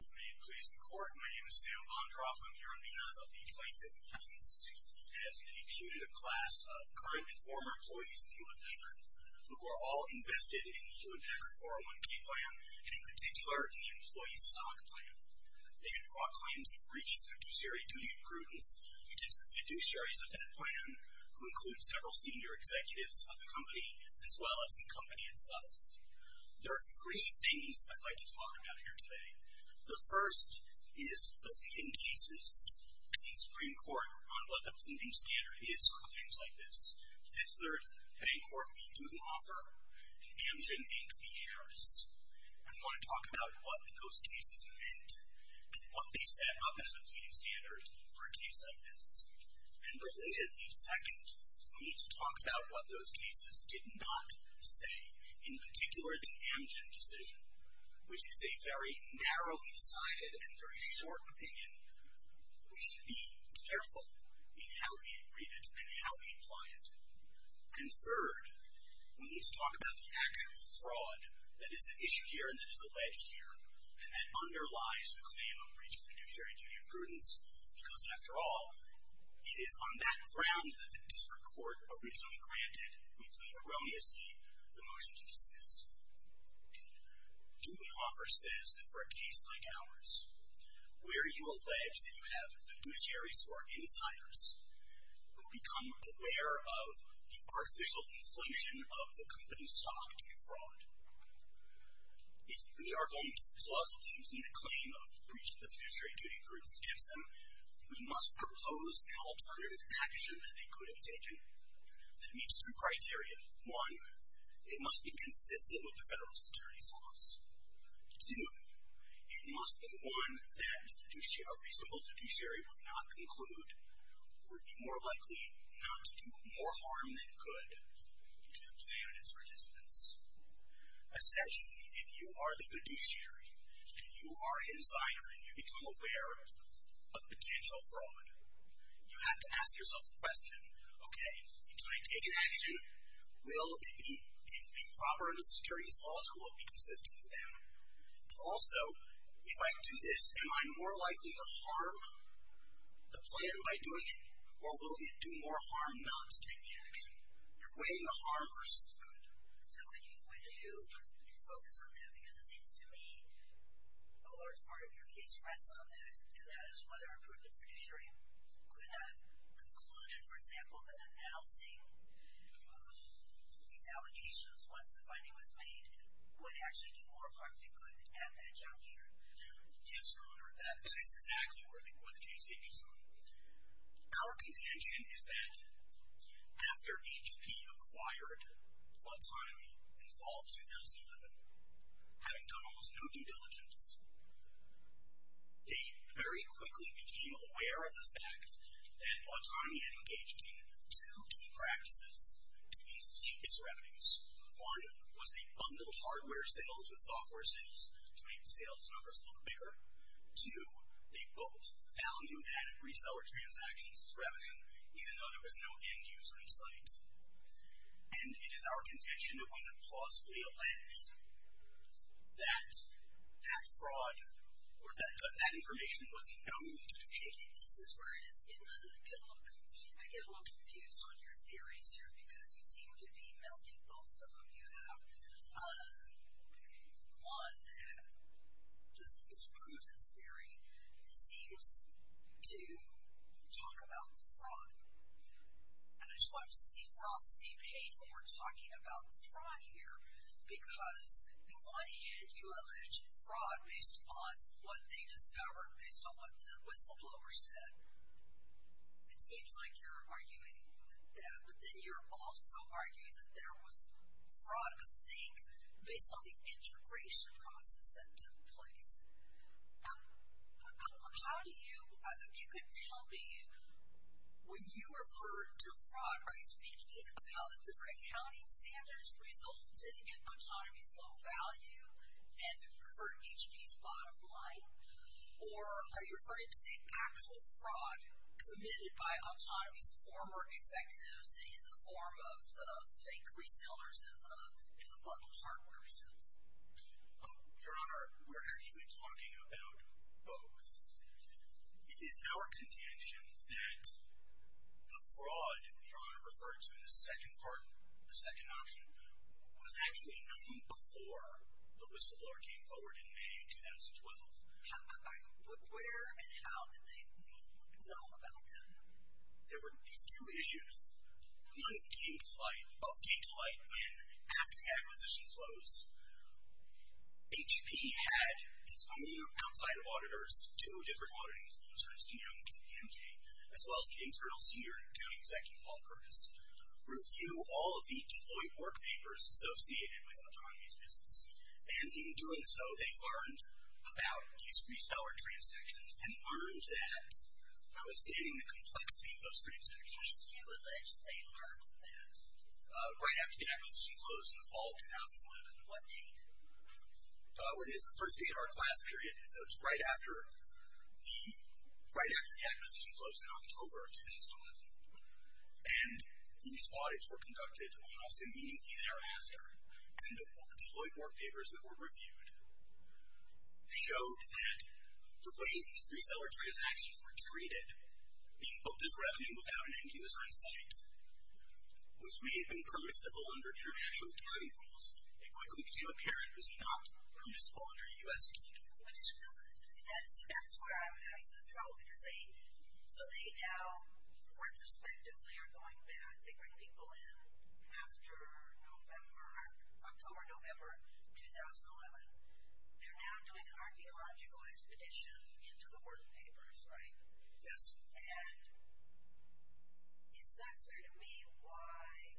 May it please the court, my name is Sam Bondroff. I'm here on behalf of the plaintiff's patents. And as a punitive class of current and former employees of Hewlett-Packard, who are all invested in the Hewlett-Packard 401k plan, and in particular in the employee stock plan. They have brought claims of breach of fiduciary duty and prudence against the fiduciaries of that plan, who include several senior executives of the company, as well as the company itself. There are three things I'd like to talk about here today. The first is the leading cases. Please bring court on what the pleading standard is for claims like this. Fifth Third, Bancorp, the student offer, and Amgen, Inc., the heiress. I want to talk about what those cases meant, and what they set up as the pleading standard for a case like this. And relatedly, second, we need to talk about what those cases did not say. In particular, the Amgen decision, which is a very narrowly decided and very short opinion. We should be careful in how we read it and how we apply it. And third, we need to talk about the actual fraud that is at issue here and that is alleged here, and that underlies the claim of breach of fiduciary duty and prudence. Because after all, it is on that ground that the district court originally granted, which we erroneously, the motion to dismiss. Do we offer, says that for a case like ours, where you allege that you have fiduciaries or insiders who become aware of the artificial inflation of the company's stock to be fraud. If the Argonne clause leaves in a claim of breach of the fiduciary duty and prudence gives them, we must propose an alternative action that they could have taken that meets two criteria. One, it must be consistent with the federal securities laws. Two, it must be one that a reasonable fiduciary would not conclude would be more likely not to do more harm than good to the plan and its participants. Essentially, if you are the fiduciary and you are insider and you become aware of potential fraud, you have to ask yourself the question, okay, can I take an action? Will it be improper under the securities laws or will it be consistent with them? Also, if I do this, am I more likely to harm the plan by doing it or will it do more harm not to take the action? You're weighing the harm versus the good. So would you focus on that? Because it seems to me a large part of your case rests on that, and that is whether a prudent fiduciary could have concluded, for example, that announcing these allegations once the finding was made would actually do more harm than good at that juncture. Yes, Your Honor, that is exactly where the case hinges on. Our contention is that after HP acquired Autonomy in fall of 2011, having done almost no due diligence, they very quickly became aware of the fact that Autonomy had engaged in two key practices to inflate its revenues. One was they bundled hardware sales with software sales to make sales numbers look bigger. Two, they built value-added reseller transactions as revenue, and it is our contention that when it was plausibly alleged that that fraud or that that information was known to be fake. This is where I get a little confused on your theories here because you seem to be melding both of them. You have, one, this prudence theory seems to talk about the fraud. And I just wanted to see if we're on the same page when we're talking about the fraud here because in one hand you allege fraud based on what they discovered, based on what the whistleblower said. It seems like you're arguing that, but then you're also arguing that there was fraud, I think, based on the integration process that took place. How do you, if you could tell me, when you refer to fraud, are you speaking about the different accounting standards resulted in Autonomy's low value and for HP's bottom line? Or are you referring to the actual fraud committed by Autonomy's former executives in the form of the fake resellers and the bundled hardware sales? Your Honor, we're actually talking about both. It is our contention that the fraud, Your Honor referred to in the second part, the second option, was actually known before the whistleblower came forward in May 2012. But where and how did they know about that? There were these two issues. One came to light when, after the acquisition closed, HP had its own outside auditors, two different auditing firms, Ernst & Young and PMG, as well as the internal senior accounting executive, Paul Curtis, review all of the deployed work papers associated with Autonomy's business. And in doing so, they learned about these reseller transactions and learned that, by withstanding the complexity of those transactions, HP's Q alleged they learned that. Right after the acquisition closed in the fall of 2011. What date? Well, it is the first day of our class period, so it's right after the acquisition closed in October of 2011. And these audits were conducted almost immediately thereafter, and the deployed work papers that were reviewed showed that the way these reseller transactions were treated, being booked as revenue without an end user in sight, which may have been permissible under international accounting rules, it quickly became apparent it was not permissible under U.S. accounting rules. That's where I'm having some trouble, because they now, retrospectively, are going back. They bring people in after October, November 2011. They're now doing an archaeological expedition into the work papers, right? Yes. And it's not clear to me why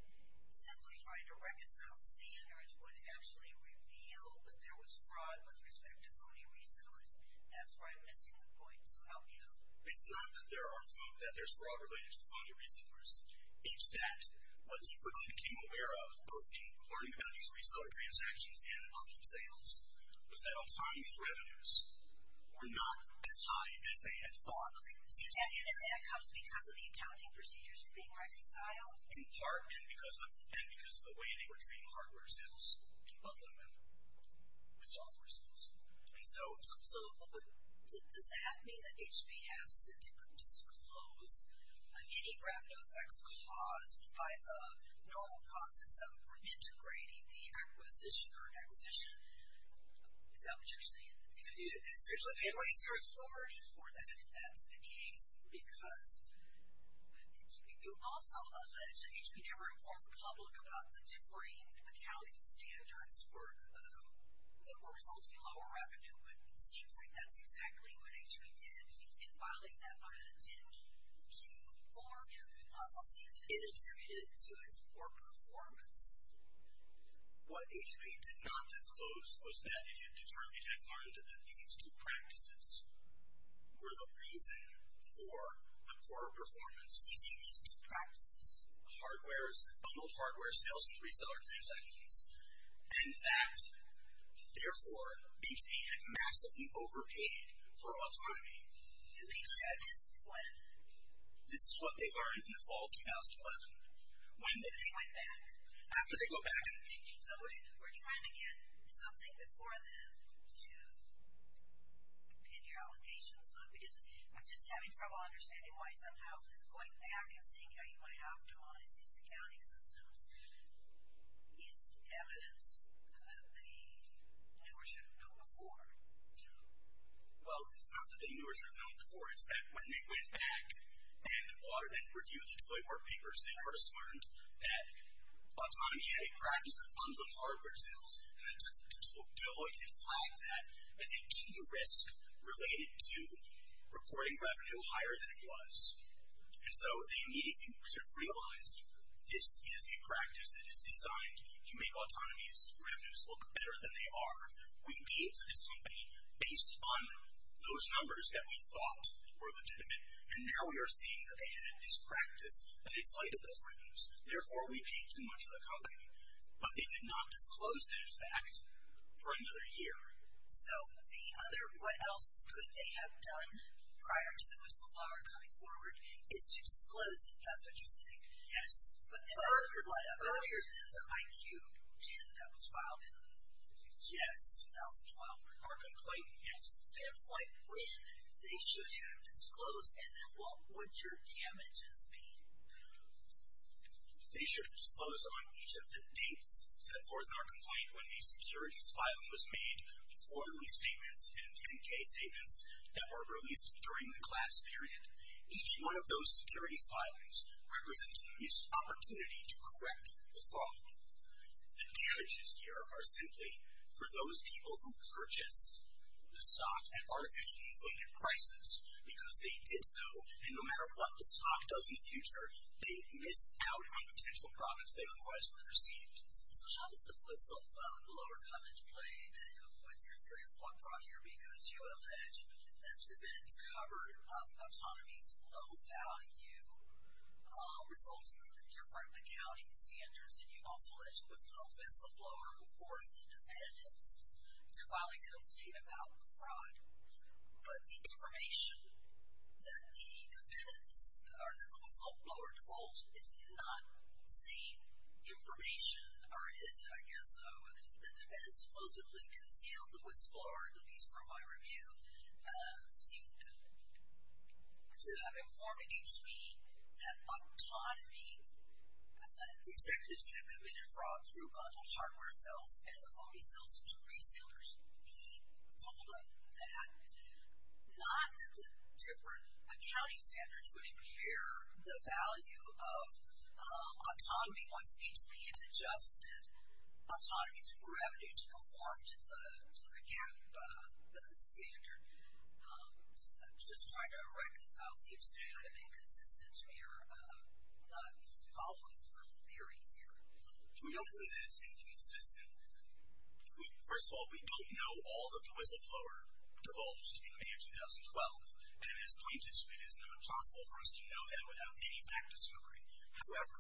simply trying to reconcile standards would actually reveal that there was fraud with respect to phony resellers. That's where I'm missing the point, so help me out. It's not that there's fraud related to phony resellers. It's that what HP quickly became aware of, both in learning about these reseller transactions and on-chain sales, was that all the time these revenues were not as high as they had thought. So that comes because of the accounting procedures being reconciled? In part, and because of the way they were treating hardware sales and bundling them with software sales. So does that mean that HP has to disclose any revenue effects caused by the normal process of integrating the acquisition or acquisition? Is that what you're saying? There's authority for that, if that's the case, because you also allege that HP never informed the public about the differing accounting standards that were resulting in lower revenue, but it seems like that's exactly what HP did in filing that fine. Did you inform him? It also seems it attributed to its poor performance. What HP did not disclose was that it had determined and had learned that these two practices were the reason for the poor performance. You say these two practices? Bundled hardware sales and reseller transactions, and that, therefore, HP had massively overpaid for autonomy. And they said this when? This is what they learned in the fall of 2011. After they went back? After they went back. So we're trying to get something before then to pin your allegations on, because I'm just having trouble understanding why somehow going back and seeing how you might optimize these accounting systems is evidence that they knew or should have known before. Well, it's not that they knew or should have known before. It's that when they went back and ordered and reviewed the toy work papers, they first learned that autonomy had a practice of bundled hardware sales, and that Deloitte had flagged that as a key risk related to reporting revenue higher than it was. And so they immediately should have realized this is a practice that is designed to make autonomy's revenues look better than they are. We paid for this company based on those numbers that we thought were legitimate, and now we are seeing that they had a mispractice that inflated those revenues. Therefore, we paid too much of the company. But they did not disclose that fact for another year. So the other what else could they have done prior to the whistleblower coming forward is to disclose it. That's what you're saying. Yes. But earlier than the IQ 10 that was filed in the 50s? Yes, 2012. Markham Clayton? Yes. Then when they should have disclosed, and then what would your damages be? They should have disclosed on each of the dates set forth in our complaint when a securities filing was made, the quarterly statements and 10-K statements that were released during the class period. Each one of those securities filings represents a missed opportunity to correct the fault. The damages here are simply for those people who purchased the stock at artificially inflated prices because they did so, and no matter what the stock does in the future, they missed out on the potential profits they otherwise would have received. So how does the whistleblower come into play? What's your theory of fault brought here? Because you allege that if it is covered up, autonomy's low value results in different accounting standards, and you also alleged it was the whistleblower who forced the defendants to file a complaint about the fraud. But the information that the defendants, or that the whistleblower defaulted, is not safe information, or is, I guess, the defendants supposedly concealed the whistleblower, at least from my review, seem to have informed HP that autonomy, the executives that have committed fraud through bundled hardware sales and the phony sales to resellers, he told them that not that the different accounting standards would impair the value of autonomy once HP had adjusted autonomy's revenue to conform to the GAAP standard. I'm just trying to reconcile. It seems kind of inconsistent to me, or not following your theories here. We don't think that it's inconsistent. First of all, we don't know all of the whistleblower divulged in May of 2012, and it is not possible for us to know that without any fact discovery. However,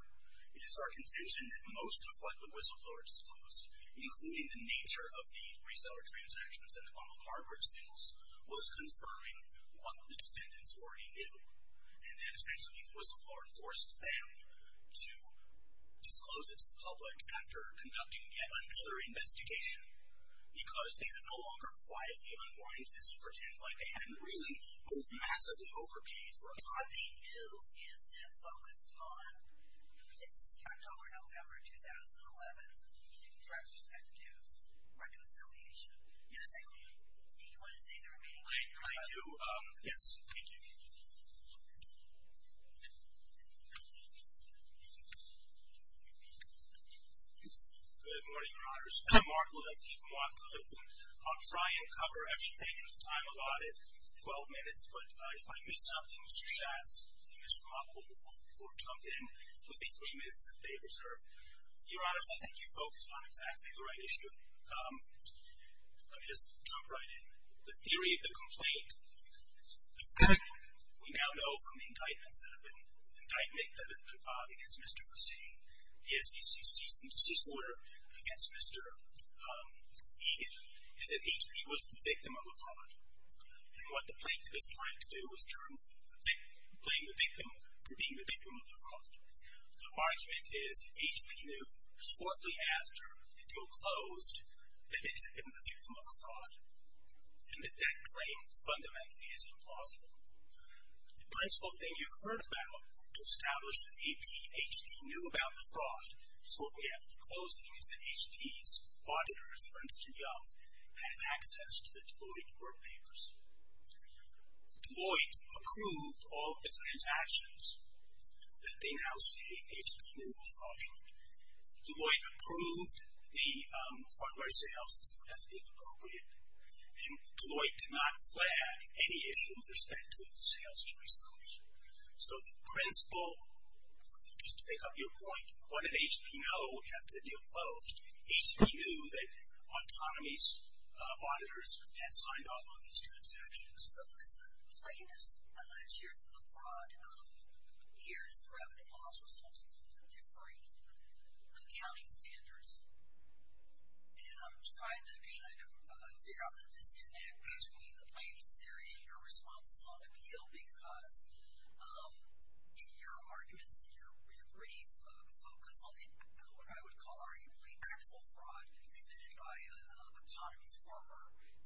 it is our contention that most of what the whistleblower disclosed, including the nature of the reseller transactions and the bundled hardware sales, was confirming what the defendants already knew, and that essentially the whistleblower forced them to disclose it to the public after conducting yet another investigation because they could no longer quietly unwind this and pretend like they hadn't really moved massively over paid for it. What they knew is that focused on this October, November 2011 Do you have respect to reconciliation? Yes. Do you want to say the remaining words? I do. Yes. Thank you. Good morning, Your Honors. I'm Mark Woleski from Washington. I'll try and cover everything in the time allotted, 12 minutes, but if I miss something, Mr. Schatz and Mr. Munk will jump in. It will be three minutes if they preserve. Your Honors, I think you focused on exactly the right issue. Let me just jump right in. The theory of the complaint, the fact we now know from the indictments that have been filed against Mr. Vercetti in the SEC's cease and desist order against Mr. Egan is that he was the victim of a fraud, and what the plaintiff is trying to do is claim the victim for being the victim of the fraud. The argument is that HP knew shortly after the deal closed that it had been the victim of a fraud, and that that claim fundamentally is implausible. The principal thing you've heard about to establish that HP knew about the fraud shortly after the closing is that HP's auditors, Princeton Young, had access to the Deloitte workpapers. Deloitte approved all of the transactions that they now see HP knew was fraudulent. Deloitte approved the hardware sales as inappropriate, and Deloitte did not flag any issue with respect to the sales transactions. So the principal, just to pick up your point, what did HP know after the deal closed? HP knew that Autonomy's auditors had signed off on these transactions. So as the plaintiff's alleged here that the fraud appears, the revenue loss results include a differing accounting standards, and I'm just trying to kind of figure out the disconnect between the plaintiff's theory and your responses on the deal, because in your arguments, in your brief, focus on what I would call arguably criminal fraud committed by Autonomy's former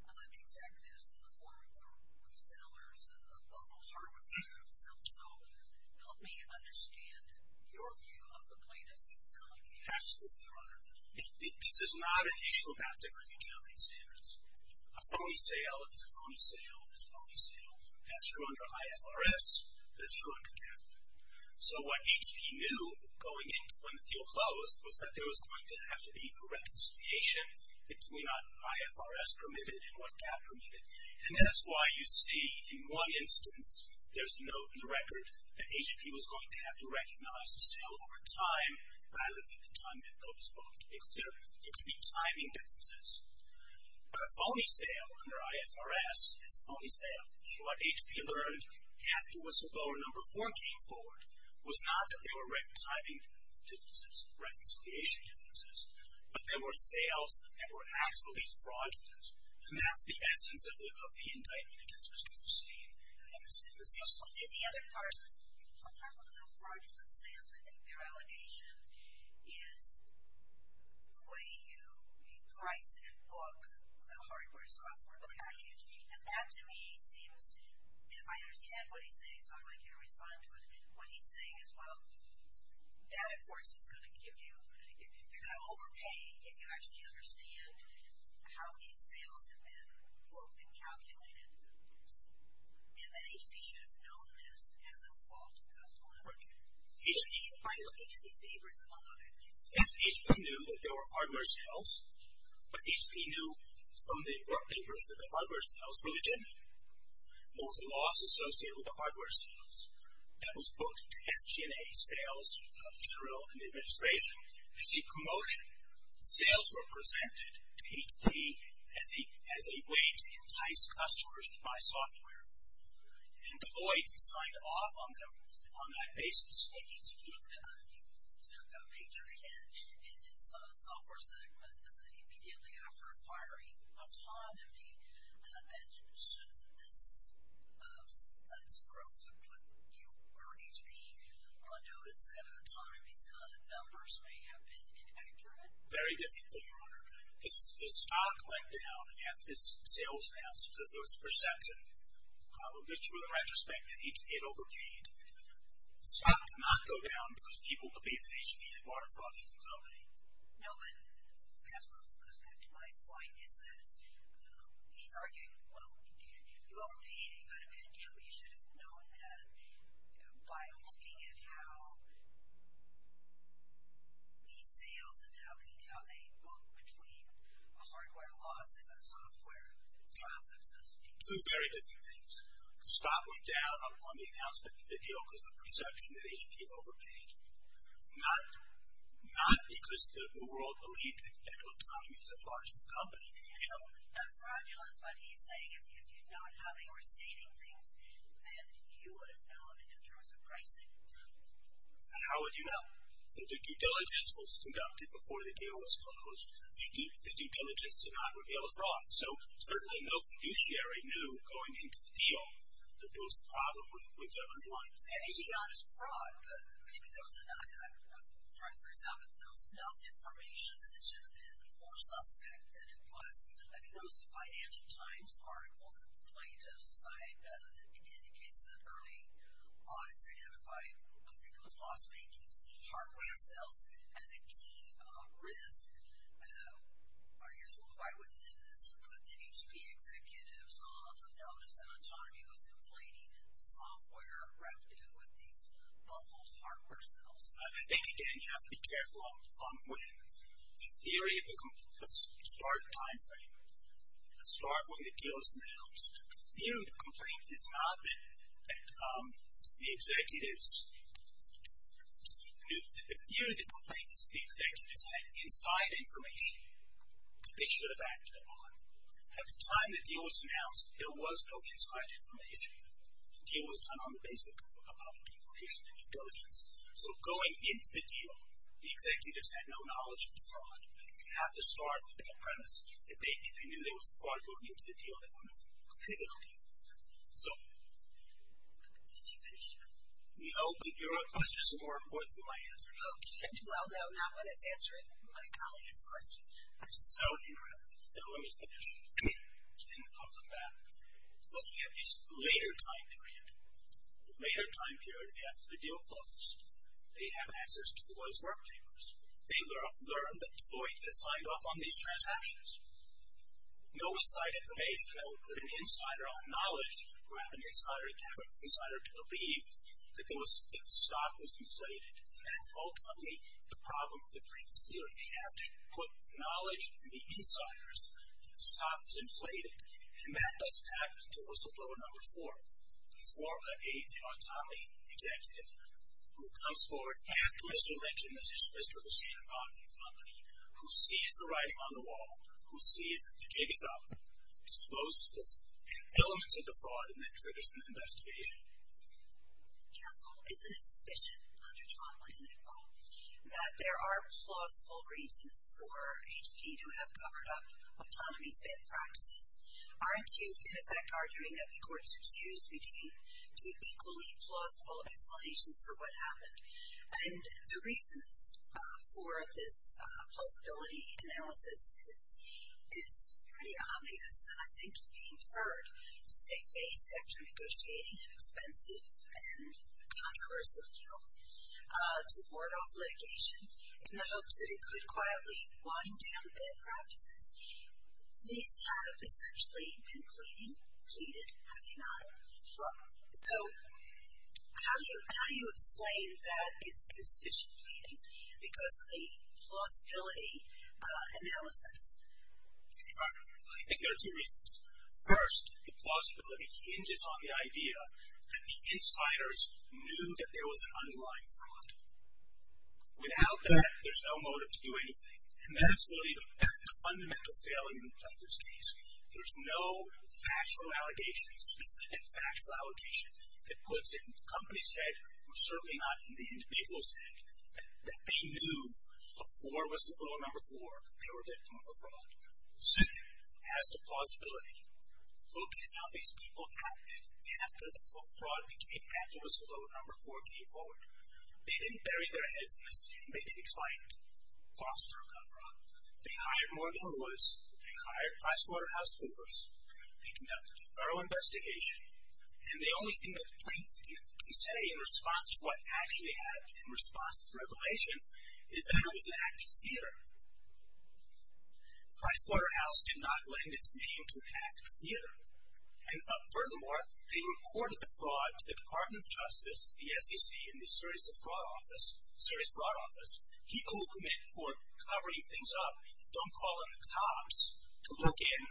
executives in the form of their resellers and the local hardware sales, so help me understand your view of the plaintiff's allegation. Absolutely, Your Honor. This is not an issue about differing accounting standards. A phony sale is a phony sale is a phony sale. That's true under IFRS. That's true under CAP. So what HP knew going into when the deal closed was that there was going to have to be a reconciliation between what IFRS permitted and what CAP permitted. And that's why you see in one instance there's a note in the record that HP was going to have to recognize the sale over time rather than the time that it was going to be considered. There could be timing differences. But a phony sale under IFRS is a phony sale, and what HP learned after whistleblower number four came forward was not that there were timing differences, reconciliation differences, but there were sales that were actually fraudulent, and that's the essence of the indictment against Mr. Tasneem and Mr. Tasneem's son. In the other part, sometimes with the fraudulent sales, I think their allegation is the way you price and book the hardware and software value. And that, to me, seems... If I understand what he's saying, so I'd like you to respond to it, what he's saying is, well, that, of course, is going to give you... You're going to overpay if you actually understand how these sales have been booked and calculated. And that HP should have known this as a fault of the laboratory. By looking at these papers, among other things. Yes, HP knew that there were hardware sales, but HP knew from the work papers that the hardware sales were legitimate. There was a loss associated with the hardware sales. That was booked to SG&A Sales General and the administration. As a commotion, the sales were presented to HP as a way to entice customers to buy software. And Deloitte signed off on them on that basis. If HP took a major hit in its software segment immediately after acquiring Autonomy, then shouldn't this... Some types of growth have put you or HP on notice that Autonomy's numbers may have been inaccurate? Very difficult, Your Honor. The stock went down after its sales passed because there was a percentant. But through the retrospect, HP had overpaid. The stock did not go down because people believed that HP had bought a fraudulent company. No, but that goes back to my point, is that he's arguing, well, if you overpaid and you had a bad company, you should have known that by looking at how these sales and how they book between a hardware loss and a software profit, so to speak. Two very different things. The stock went down on the announcement of the deal because of a perception that HP had overpaid. Not because the world believed that Autonomy was a fraudulent company. Not fraudulent, but he's saying if you'd known how they were stating things, then you would have known in terms of pricing. How would you know? That the due diligence was conducted before the deal was closed. The due diligence did not reveal a fraud. So certainly no fiduciary knew going into the deal that there was a problem with the underlying... Maybe not as a fraud, but maybe those... For example, that there was enough information that it should have been more suspect than it was. I mean, there was a Financial Times article that the plaintiffs cited that indicates that early on it's identified because loss-making hardware sales as a key risk. Are you still divided within this? But did HP executives also notice that Autonomy was inflating the software revenue with these bundled hardware sales? I think, again, you have to be careful on when the theory of the... Let's start a time frame. Let's start when the deal is announced. The theory of the complaint is not that the executives... The theory of the complaint is that the executives had inside information that they should have acted upon. At the time the deal was announced, there was no inside information. The deal was done on the basis of public information and due diligence. So going into the deal, the executives had no knowledge of the fraud. You have to start with the premise that maybe they knew there was a fraud going into the deal. So... Did you finish? No, but your question is more important than my answer. Okay, well, no, not when it's answering my colleague's question. So let me finish and come back. Looking at this later time period, the later time period after the deal closed, they have access to Deloitte's work papers. They learned that Deloitte has signed off on these transactions. No inside information. That would put an insider on knowledge who had an insider to believe that the stock was inflated. And that's ultimately the problem with the briefings theory. They have to put knowledge in the insiders that the stock was inflated. And that doesn't happen until whistleblower number four. Four, a new autonomy executive who comes forward after Mr. Lynch and this is Mr. Hussien about the company, who sees the writing on the wall, who sees the jig is up, exposes this, and elements of the fraud in that jurisdiction investigation. Counsel, isn't it sufficient, under John Lennon at all, that there are plausible reasons for HP to have covered up autonomy's bad practices? Aren't you, in effect, arguing that the court should choose between two equally plausible explanations for what happened? And the reasons for this plausibility analysis is pretty obvious, and I think it being heard to say face after negotiating an expensive and controversial bill to ward off litigation in the hopes that it could quietly wind down bad practices. These have essentially been pleaded, have they not? So, how do you explain that it's insufficient pleading because of the plausibility analysis? I think there are two reasons. First, the plausibility hinges on the idea that the insiders knew that there was an underlying fraud. Without that, there's no motive to do anything. And that's really the fundamental failure in this case. There's no factual allegation, specific factual allegation, that puts it in the company's head or certainly not in the individual's head that they knew before whistleblower number four they were victim of a fraud. Second, as to plausibility, look at how these people acted after the fraud became, after whistleblower number four came forward. They didn't bury their heads in the sand. They didn't client foster a con fraud. They hired Morgan Lewis. They hired PricewaterhouseCoopers. They conducted a thorough investigation. And the only thing that the plaintiff can say in response to what actually happened, in response to the revelation, is that it was an act of theater. Pricewaterhouse did not lend its name to an act of theater. And furthermore, they reported the fraud to the Department of Justice, the SEC, and the Serious Fraud Office. Serious Fraud Office. People who commit for covering things up don't call in the cops to look in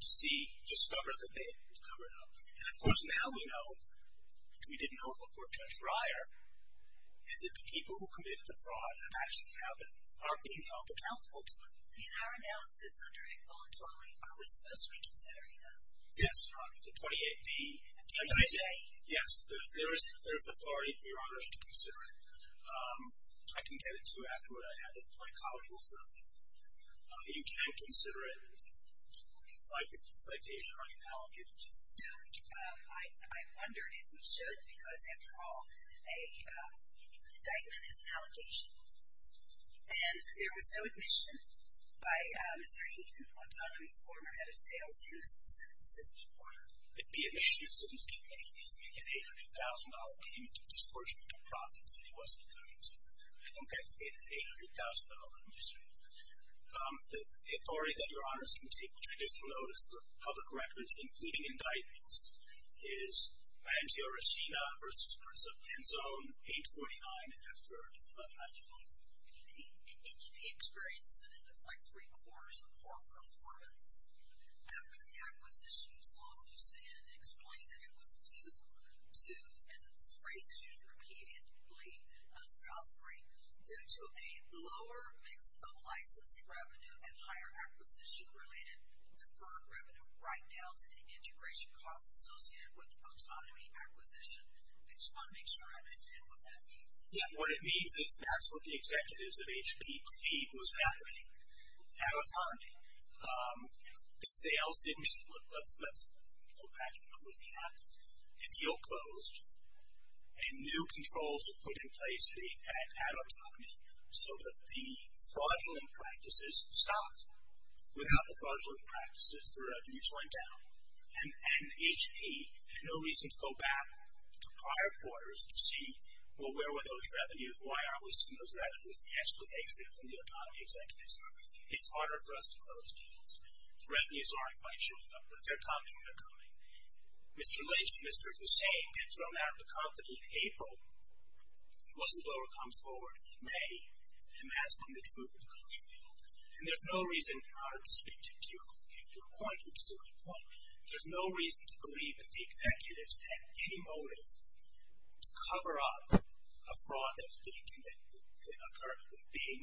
to see, discover that they had covered up. And of course, now we know, which we didn't know before Judge Breyer, is that the people who committed the fraud actually haven't, aren't being held accountable to it. In our analysis under 8.0 and 12.8, are we supposed to be considering them? Yes. The 28B. And the 28A. Yes. There is authority for your honor to consider it. I can get it to you afterward. I have it. My colleague will send it. You can consider it like a citation or an allegation. No. I wonder if we should, because after all, an indictment is an allegation. And there was no admission by Mr. Heathen, Autonomous Former Head of Sales, in the specific system of order. The admission, so to speak, is an $800,000 payment of disproportionate profits that he wasn't committed to. I think that's an $800,000 admission. The authority that your honor can take traditional notice of public records, including indictments, is Mangio Reschina v. Prince of Penzone, 849 F. 3rd, 11th Avenue. In HP experience, it looks like three-quarters of core performance. After the acquisition, the law moves in and explains that it was due to, and this phrase is used repeatedly throughout the rate, due to a lower mix of license revenue and higher acquisition-related deferred revenue write-downs and integration costs associated with autonomy acquisition. I just want to make sure I understand what that means. Yeah, what it means is that's what the executives of HP believed was happening at autonomy. The sales didn't, let's go back and look at that, the deal closed, and new controls were put in place at autonomy so that the fraudulent practices, without the fraudulent practices, the revenues went down, and HP had no reason to go back to prior quarters to see, well, where were those revenues? Why aren't we seeing those revenues? The explanation from the autonomy executives are it's harder for us to close deals. Revenues aren't quite showing up, but they're coming, they're coming. Mr. Lips, Mr. Hussain, had thrown out the company in April. It wasn't until it comes forward in May and asked them the truth when it comes from the open. And there's no reason, in order to speak to your point, which is a good point, there's no reason to believe that the executives had any motive to cover up a fraud that was being, that occurred, being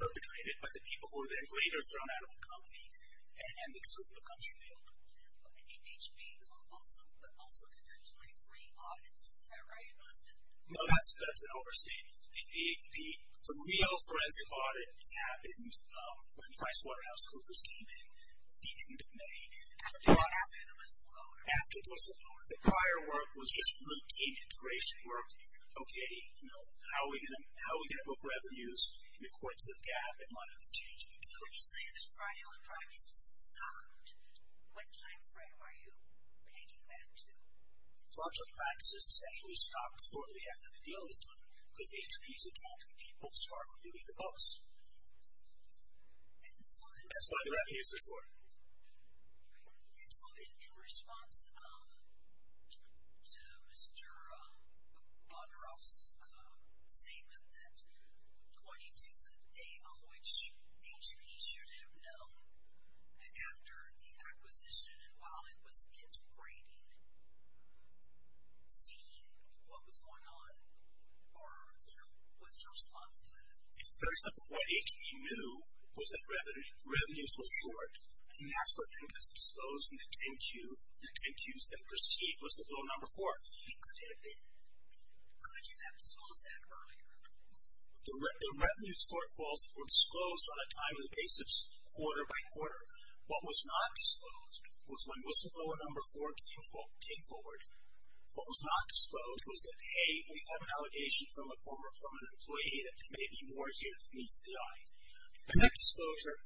perpetrated by the people who were then later thrown out of the company and the truth when it comes from the open. And HP also, also conducted 23 audits, is that right? No, that's an overstatement. The real forensic audit happened when PricewaterhouseCoopers came in at the end of May. After the whistleblower. After the whistleblower. The prior work was just routine integration work. Okay, you know, how are we going to book revenues in accordance with GAAP and monitor changes? So when you say that fraudulent practices stopped, what time frame are you pegging that to? Fraudulent practices essentially stopped shortly after the deal was done because HP is attacking people's hard-earned bucks. And so I do not use this word. And so in response to Mr. Bonderoff's statement that according to the date on which HP should have known after the acquisition and while it was integrating, see what was going on, or, you know, what's your response to that? It's very simple. What HP knew was that revenues were short and that's what then was disclosed in the 10-Q. The 10-Qs that precede whistleblower number four. How did you have to disclose that earlier? The revenues shortfalls were disclosed on a timely basis, quarter by quarter. What was not disclosed was when whistleblower number four came forward. What was not disclosed was that, hey, we have an allegation from a former permanent employee that there may be more here than meets the eye. And that disclosure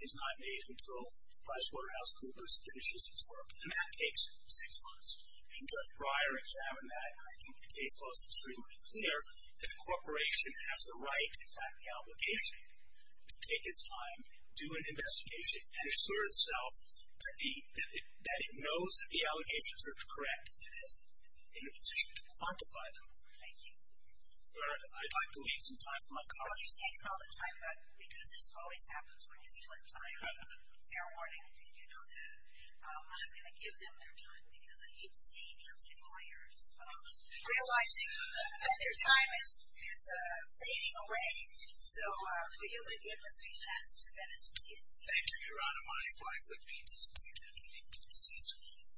is not made until PricewaterhouseCoopers finishes its work, and that takes six months. And Judge Breyer examined that, and I think the case law is extremely clear that a corporation has the right, in fact the obligation, to take its time, do an investigation, and assure itself that it knows that the allegations are correct and is in a position to quantify them. Thank you. I'd like to leave some time for my colleagues. Well, you're taking all the time, but because this always happens when you split time, fair warning, and you know that. I'm not going to give them their time because I hate to see Nancy Moyers realizing that their time is fading away. So, Leo, the investigation has two minutes. Yes. Thank you, Your Honor. My wife would be disappointed if we didn't get to see some of this.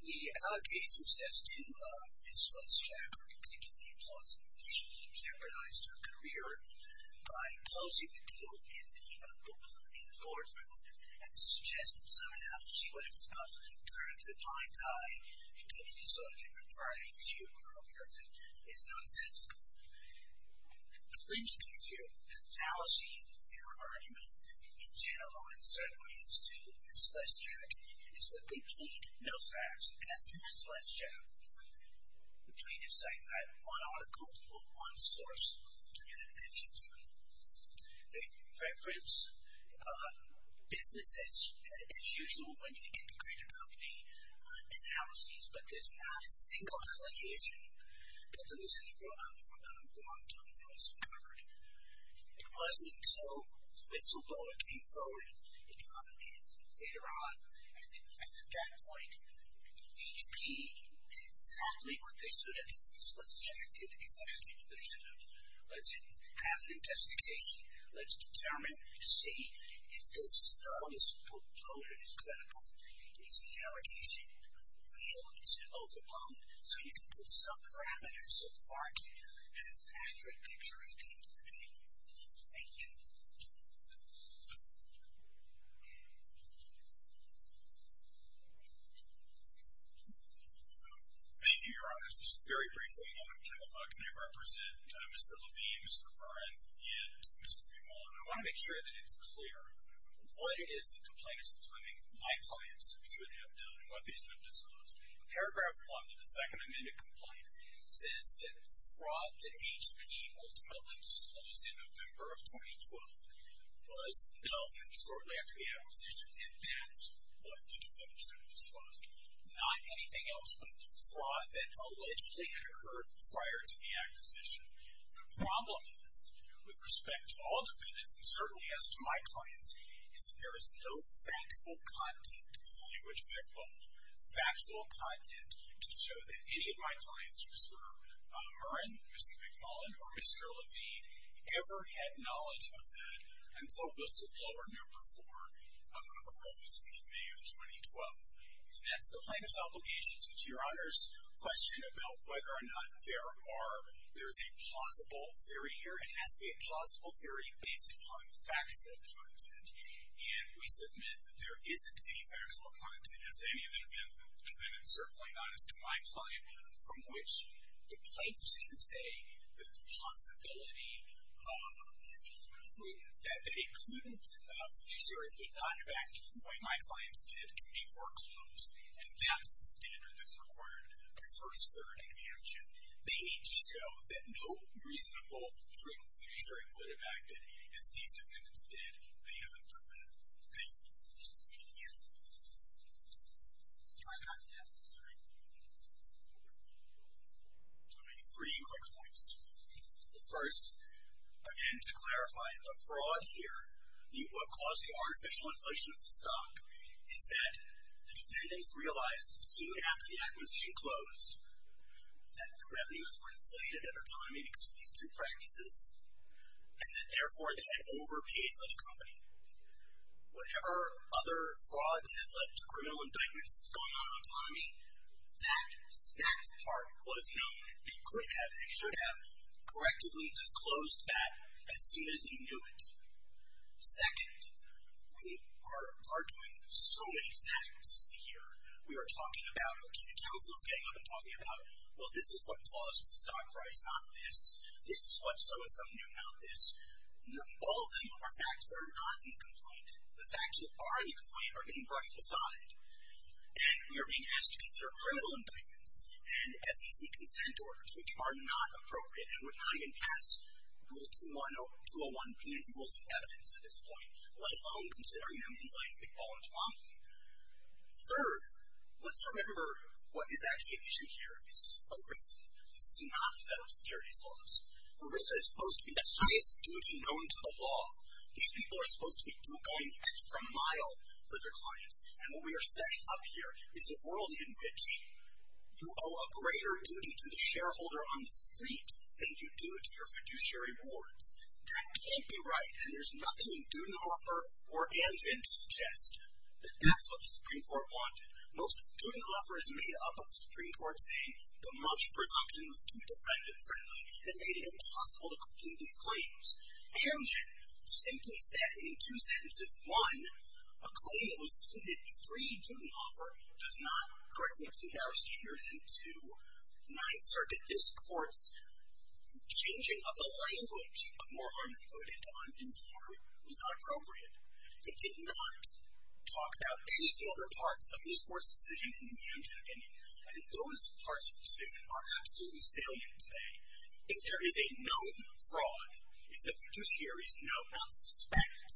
The allegations as to Ms. Westrack are particularly plausible. She jeopardized her career by closing the deal in the boardroom and suggested signing out. She would have turned a blind eye to the subject of Friday's funeral, which is nonsensical. The fringe piece here, the fallacy in her argument in general and in certain ways to Ms. Westrack is that they plead no facts. As to Ms. Westrack, the plaintiff's side had one article or one source to get attention to. They reference business as usual when you integrate a company, analyses, but there's not a single allegation that Ms. Westrack brought on the board. It wasn't until Mr. Bowler came forward later on and at that point HP did exactly what they should have. Ms. Westrack did exactly what they should have. Let's have an investigation. Let's determine to see if this proposal is credible. Is the allegation real? Is it overblown? So you can put some parameters of argument in this accurate picture. Thank you. Thank you. Thank you, Your Honor. Just very briefly, I want to give a hug. I represent Mr. Levine, Mr. Murren, and Mr. McMullen. I want to make sure that it's clear what it is that the plaintiff's claiming my clients should have done and what they should have disclosed. Paragraph 1 of the Second Amendment Complaint says that fraud that HP ultimately disclosed in November of 2012 was known shortly after the acquisition and that's what the defendants have disclosed. Not anything else but the fraud that allegedly had occurred prior to the acquisition. The problem is, with respect to all defendants and certainly as to my clients, is that there is no faxable content in the language of their claim. There is no faxable content to show that any of my clients, Mr. Murren, Mr. McMullen, or Mr. Levine, ever had knowledge of that until whistleblower number 4 arose in May of 2012. And that's the plaintiff's obligation. So to Your Honor's question about whether or not there are, there's a plausible theory here. It has to be a plausible theory based upon faxable content. And we submit that there isn't any faxable content. As to any of the defendants, certainly not as to my client, from which the plaintiffs can say that the possibility that they couldn't fiduciaryly not have acted the way my clients did can be foreclosed and that's the standard that's required by first, third, and mansion. They need to show that no reasonable trick fiduciary would have acted as these defendants did. They haven't done that. Thank you. Thank you. Do I have time to ask a question? I'll make three quick points. First, again, to clarify, the fraud here, what caused the artificial inflation of the stock is that the defendants realized soon after the acquisition closed that the revenues were inflated at a time because of these two practices and that, therefore, they had overpaid another company. Whatever other fraud that has led to criminal indictments that's going on in the economy, that part was known. They could have and should have correctively disclosed that as soon as they knew it. Second, we are arguing so many facts here. We are talking about, okay, the counsel's getting up and talking about, well, this is what caused the stock price, not this. This is what so-and-so knew, not this. All of them are facts that are not in the complaint. The facts that are in the complaint are being brushed aside, and we are being asked to consider criminal indictments and SEC consent orders, which are not appropriate and would not even pass Rule 201B of the Rules of Evidence at this point, let alone considering them in light of the ball and tomahawk. Third, let's remember what is actually at issue here. This is a risk. This is not the federal securities laws. A risk is supposed to be the highest duty known to the law. These people are supposed to be going the extra mile for their clients, and what we are setting up here is a world in which you owe a greater duty to the shareholder on the street than you do to your fiduciary wards. That can't be right, and there's nothing in Dudenhofer or Anzin to suggest that that's what the Supreme Court wanted. Most of Dudenhofer is made up of the Supreme Court saying the much presumption was too defendant-friendly and made it impossible to complete these claims. Anzin simply said in two sentences, one, a claim that was included, three, Dudenhofer does not correctly exceed our standards, and two, the Ninth Circuit, this court's changing of the language of more harm than good into uninformed was not appropriate. It did not talk about any of the other parts of this court's decision in the Anzin opinion, and those parts of the decision are absolutely salient today. If there is a known fraud, if the fiduciaries know, not suspect,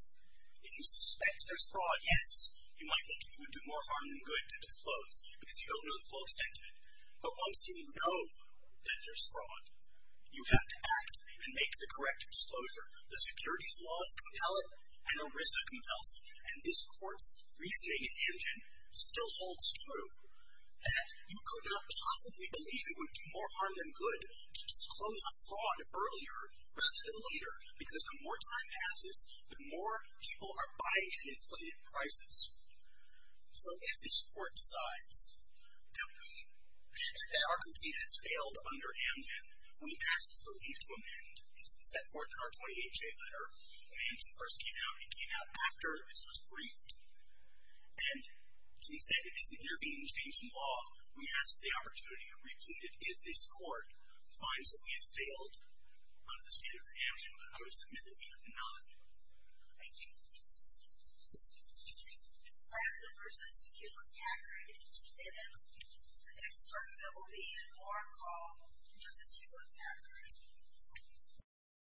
if you suspect there's fraud, yes, you might think it would do more harm than good to disclose because you don't know the full extent of it, but once you know that there's fraud, you have to act and make the correct disclosure. The securities laws compel it, and ERISA compels it, and this court's reasoning in Anzin still holds true, that you could not possibly believe it would do more harm than good to disclose a fraud earlier rather than later, because the more time passes, the more people are buying at inflated prices. So if this court decides that our opinion has failed under Anzin, we ask for leave to amend. It's set forth in our 28-J letter. When Anzin first came out, it came out after this was briefed, and to the extent it is a European state law, we ask for the opportunity to repeat it if this court finds that we have failed under the standard of Anzin, but I would submit that we have not. Thank you. I have a question. You looked at it, and the expert that will be in for a call, just as you looked at it,